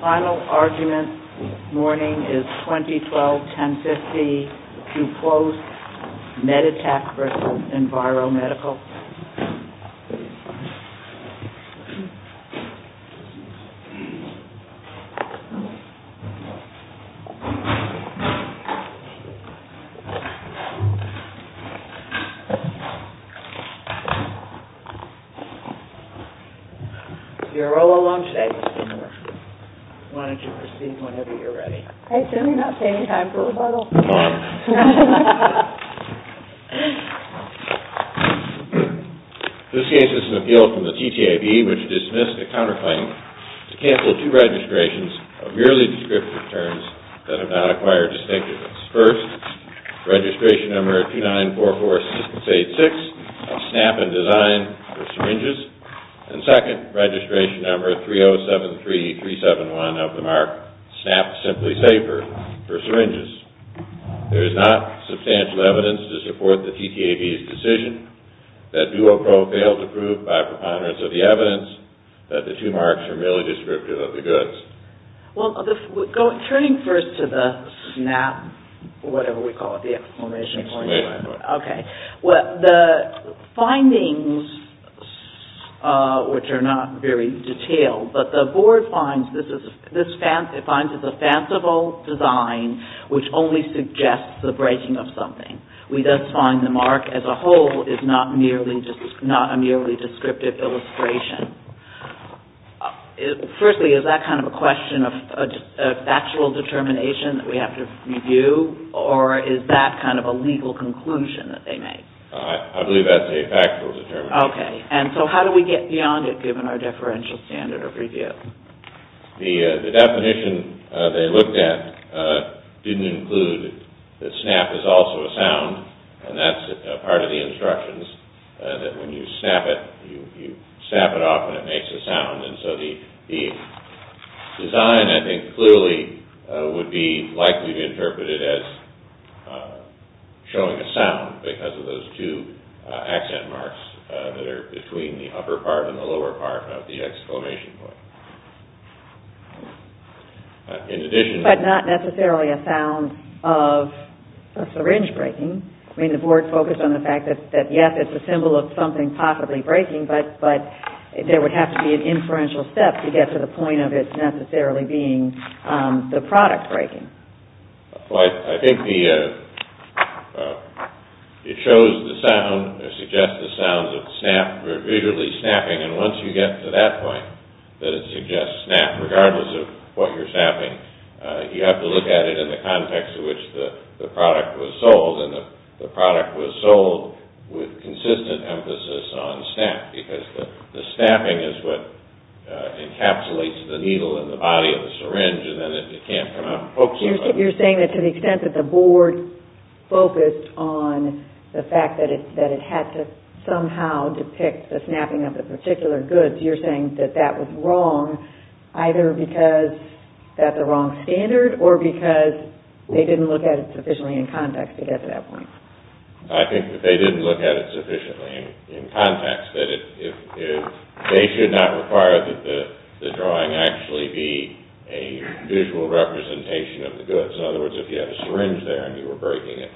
Final argument this morning is 2012-1050 DUPLOSS MEDITECH v. INVIRO MEDICAL Final argument this morning is 2012-1050 DUPLOSS MEDITECH v. INVIRO MEDICAL This case is an appeal from the TTAB which dismissed a counterclaim to cancel two registrations of merely descriptive terms that have not acquired distinctiveness. First, registration number 2944-686 of SNAP and DESIGN for syringes. And second, registration number 3073-371 of the MARC SNAP SIMPLY SAFER for syringes. There is not substantial evidence to support the TTAB's decision that DUOPRO failed to prove by preponderance of the evidence that the two MARCs are merely descriptive of the goods. Well, turning first to the SNAP, whatever we call it, the exclamation point, the findings, which are not very detailed, but the board finds this is a fanciful design which only suggests the breaking of something. We thus find the MARC as a whole is not a merely descriptive illustration. Firstly, is that kind of a question of factual determination that we have to review, or is that kind of a legal conclusion that they make? I believe that's a factual determination. Okay. And so how do we get beyond it, given our deferential standard of review? The definition they looked at didn't include that SNAP is also a sound, and that's part of the instructions, that when you snap it, you snap it off and it makes a sound. And so the design, I think, clearly would be likely to be interpreted as showing a sound because of those two accent marks that are between the upper part and the lower part of the exclamation point. But not necessarily a sound of a syringe breaking. I mean, the board focused on the fact that, yes, it's a symbol of something possibly breaking, but there would have to be an inferential step to get to the point of it necessarily being the product breaking. I think it shows the sound, or suggests the sound of visually snapping, and once you get to that point, that it suggests snap, regardless of what you're snapping, you have to look at it in the context in which the product was sold, and the product was sold with consistent emphasis on snap, because the snapping is what encapsulates the needle in the body of the syringe, and then it can't come out and poke somebody. You're saying that to the extent that the board focused on the fact that it had to somehow depict the snapping of the particular goods, you're saying that that was wrong, either because that's a wrong standard, or because they didn't look at it sufficiently in context to get to that point. I think that they didn't look at it sufficiently in context. They should not require that the drawing actually be a visual representation of the goods. In other words, if you have a syringe there and you were breaking it,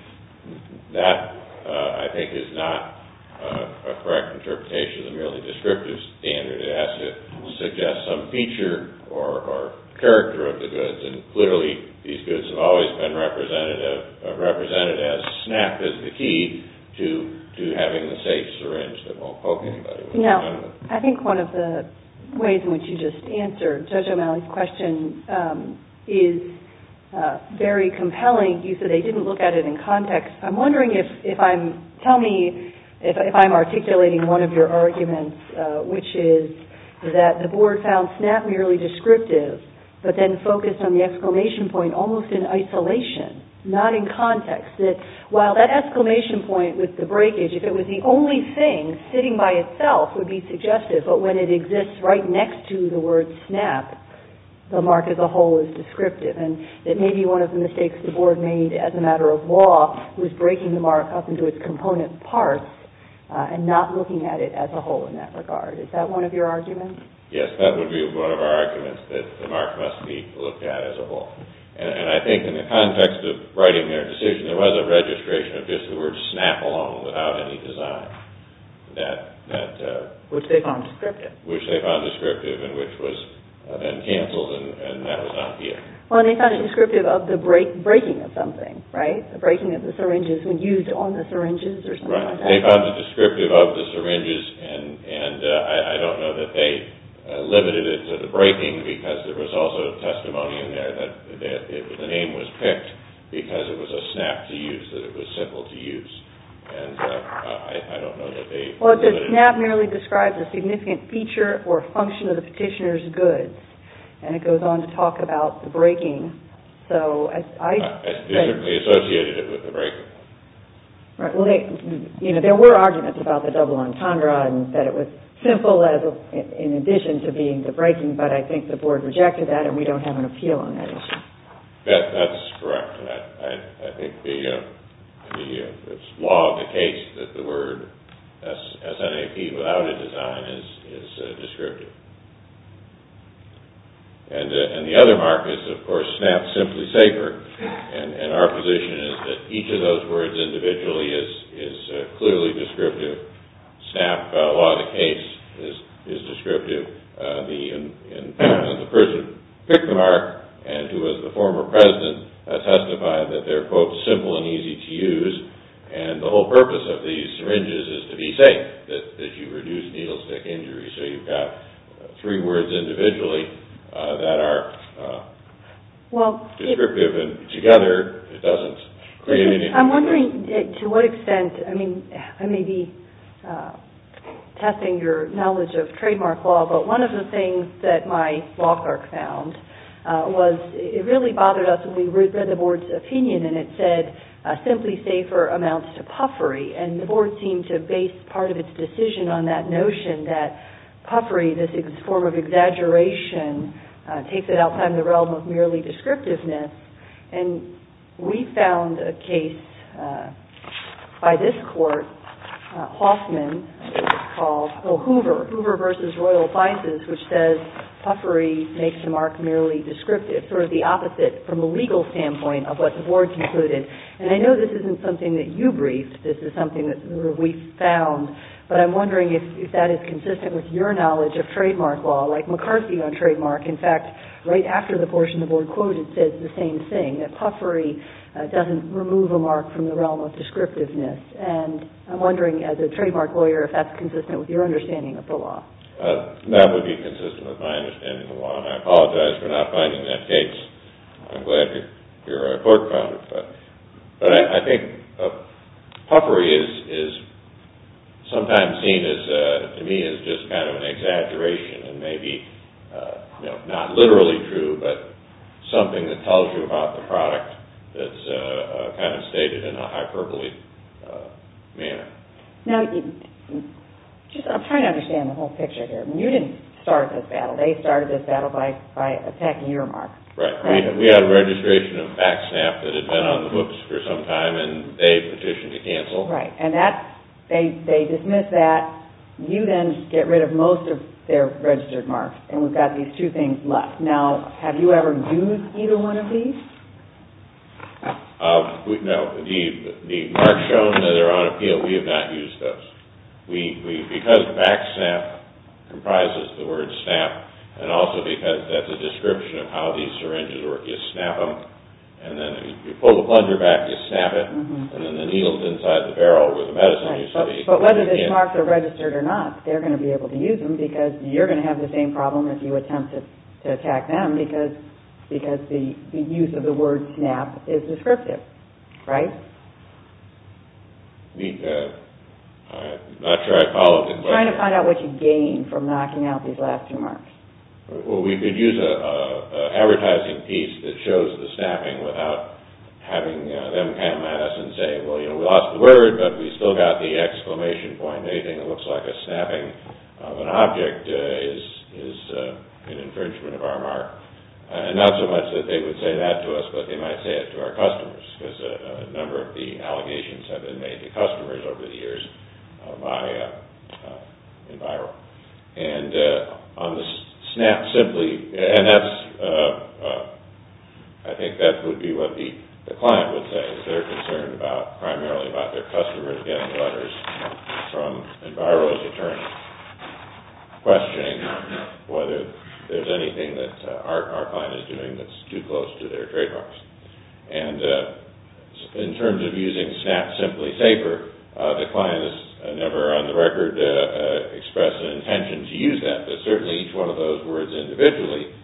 that, I think, is not a correct interpretation of the merely descriptive standard. It suggests some feature or character of the goods, and clearly these goods have always been represented as snap is the key to having a safe syringe that won't poke anybody. Now, I think one of the ways in which you just answered Judge O'Malley's question is very compelling. You said they didn't look at it in context. I'm wondering if I'm articulating one of your arguments, which is that the board found snap merely descriptive, but then focused on the exclamation point almost in isolation, not in context, that while that exclamation point with the breakage, if it was the only thing sitting by itself, would be suggestive, but when it exists right next to the word snap, the mark as a whole is descriptive. And it may be one of the mistakes the board made as a matter of law was breaking the mark up into its component parts and not looking at it as a whole in that regard. Is that one of your arguments? Yes, that would be one of our arguments, that the mark must be looked at as a whole. And I think in the context of writing their decision, there was a registration of just the word snap alone without any design. Which they found descriptive. Which they found descriptive and which was then canceled and that was not the end. Well, they found it descriptive of the breaking of something, right? The breaking of the syringes when used on the syringes or something like that. They found it descriptive of the syringes and I don't know that they limited it to the breaking because there was also testimony in there that the name was picked because it was a snap to use, that it was simple to use. Well, the snap merely describes a significant feature or function of the petitioner's goods and it goes on to talk about the breaking. They associated it with the breaking. There were arguments about the double entendre and that it was simple in addition to being the breaking, but I think the board rejected that and we don't have an appeal on that issue. That's correct. I think the law of the case that the word SNAP without a design is descriptive. And the other mark is, of course, snap simply safer. And our position is that each of those words individually is clearly descriptive. Snap, law of the case, is descriptive. The person who picked the mark and who was the former president testified that they're, quote, simple and easy to use and the whole purpose of these syringes is to be safe, that you reduce needle stick injury. So you've got three words individually that are descriptive and together it doesn't create any confusion. I'm wondering to what extent, I mean, I may be testing your knowledge of trademark law, but one of the things that my law clerk found was it really bothered us when we read the board's opinion and it said simply safer amounts to puffery and the board seemed to base part of its decision on that notion that puffery, this form of exaggeration, takes it outside the realm of merely descriptiveness and we found a case by this court, Hoffman, called Hoover versus Royal Vices, which says puffery makes the mark merely descriptive, sort of the opposite from a legal standpoint of what the board concluded. And I know this isn't something that you briefed. This is something that we found. But I'm wondering if that is consistent with your knowledge of trademark law, like McCarthy on trademark. In fact, right after the portion the board quoted said the same thing, that puffery doesn't remove a mark from the realm of descriptiveness. And I'm wondering as a trademark lawyer if that's consistent with your understanding of the law. That would be consistent with my understanding of the law, and I apologize for not finding that case. I'm glad your report found it. But I think puffery is sometimes seen to me as just kind of an exaggeration and maybe not literally true, but something that tells you about the product that's kind of stated in a hyperbole manner. Now, I'm trying to understand the whole picture here. You didn't start this battle. They started this battle by attacking your mark. Right. We had a registration of Backsnap that had been on the books for some time, and they petitioned to cancel. Right. And they dismissed that. You then get rid of most of their registered marks, and we've got these two things left. Now, have you ever used either one of these? No. The marks shown that are on appeal, we have not used those. Because Backsnap comprises the word snap, and also because that's a description of how these syringes work, you snap them, and then you pull the plunger back, you snap it, and then the needle's inside the barrel where the medicine used to be. But whether these marks are registered or not, they're going to be able to use them because you're going to have the same problem if you attempt to attack them because the use of the word snap is descriptive, right? I'm not sure I followed the question. I'm trying to find out what you gain from knocking out these last two marks. Well, we could use an advertising piece that shows the snapping without having them come at us and say, well, you know, we lost the word, but we still got the exclamation point. Anything that looks like a snapping of an object is an infringement of our mark. And not so much that they would say that to us, but they might say it to our customers because a number of the allegations have been made to customers over the years by Enviro. And on the snap simply, and I think that would be what the client would say, is they're concerned primarily about their customers getting letters from Enviro's attorney questioning whether there's anything that our client is doing that's too close to their trademarks. And in terms of using snap simply safer, the client has never on the record expressed an intention to use that, but certainly each one of those words individually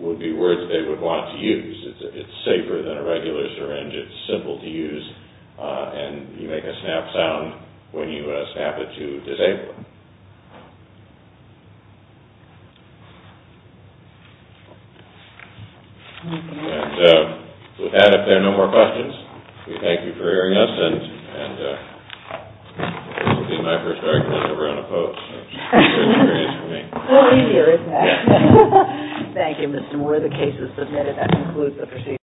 would be words they would want to use. It's safer than a regular syringe. It's simple to use, and you make a snap sound when you snap it to disable it. With that, if there are no more questions, we thank you for hearing us, and this will be my first argument ever on a post, so it's a good experience for me. Well, we hear it. Thank you, Mr. Moore. The case is submitted. That concludes the proceedings.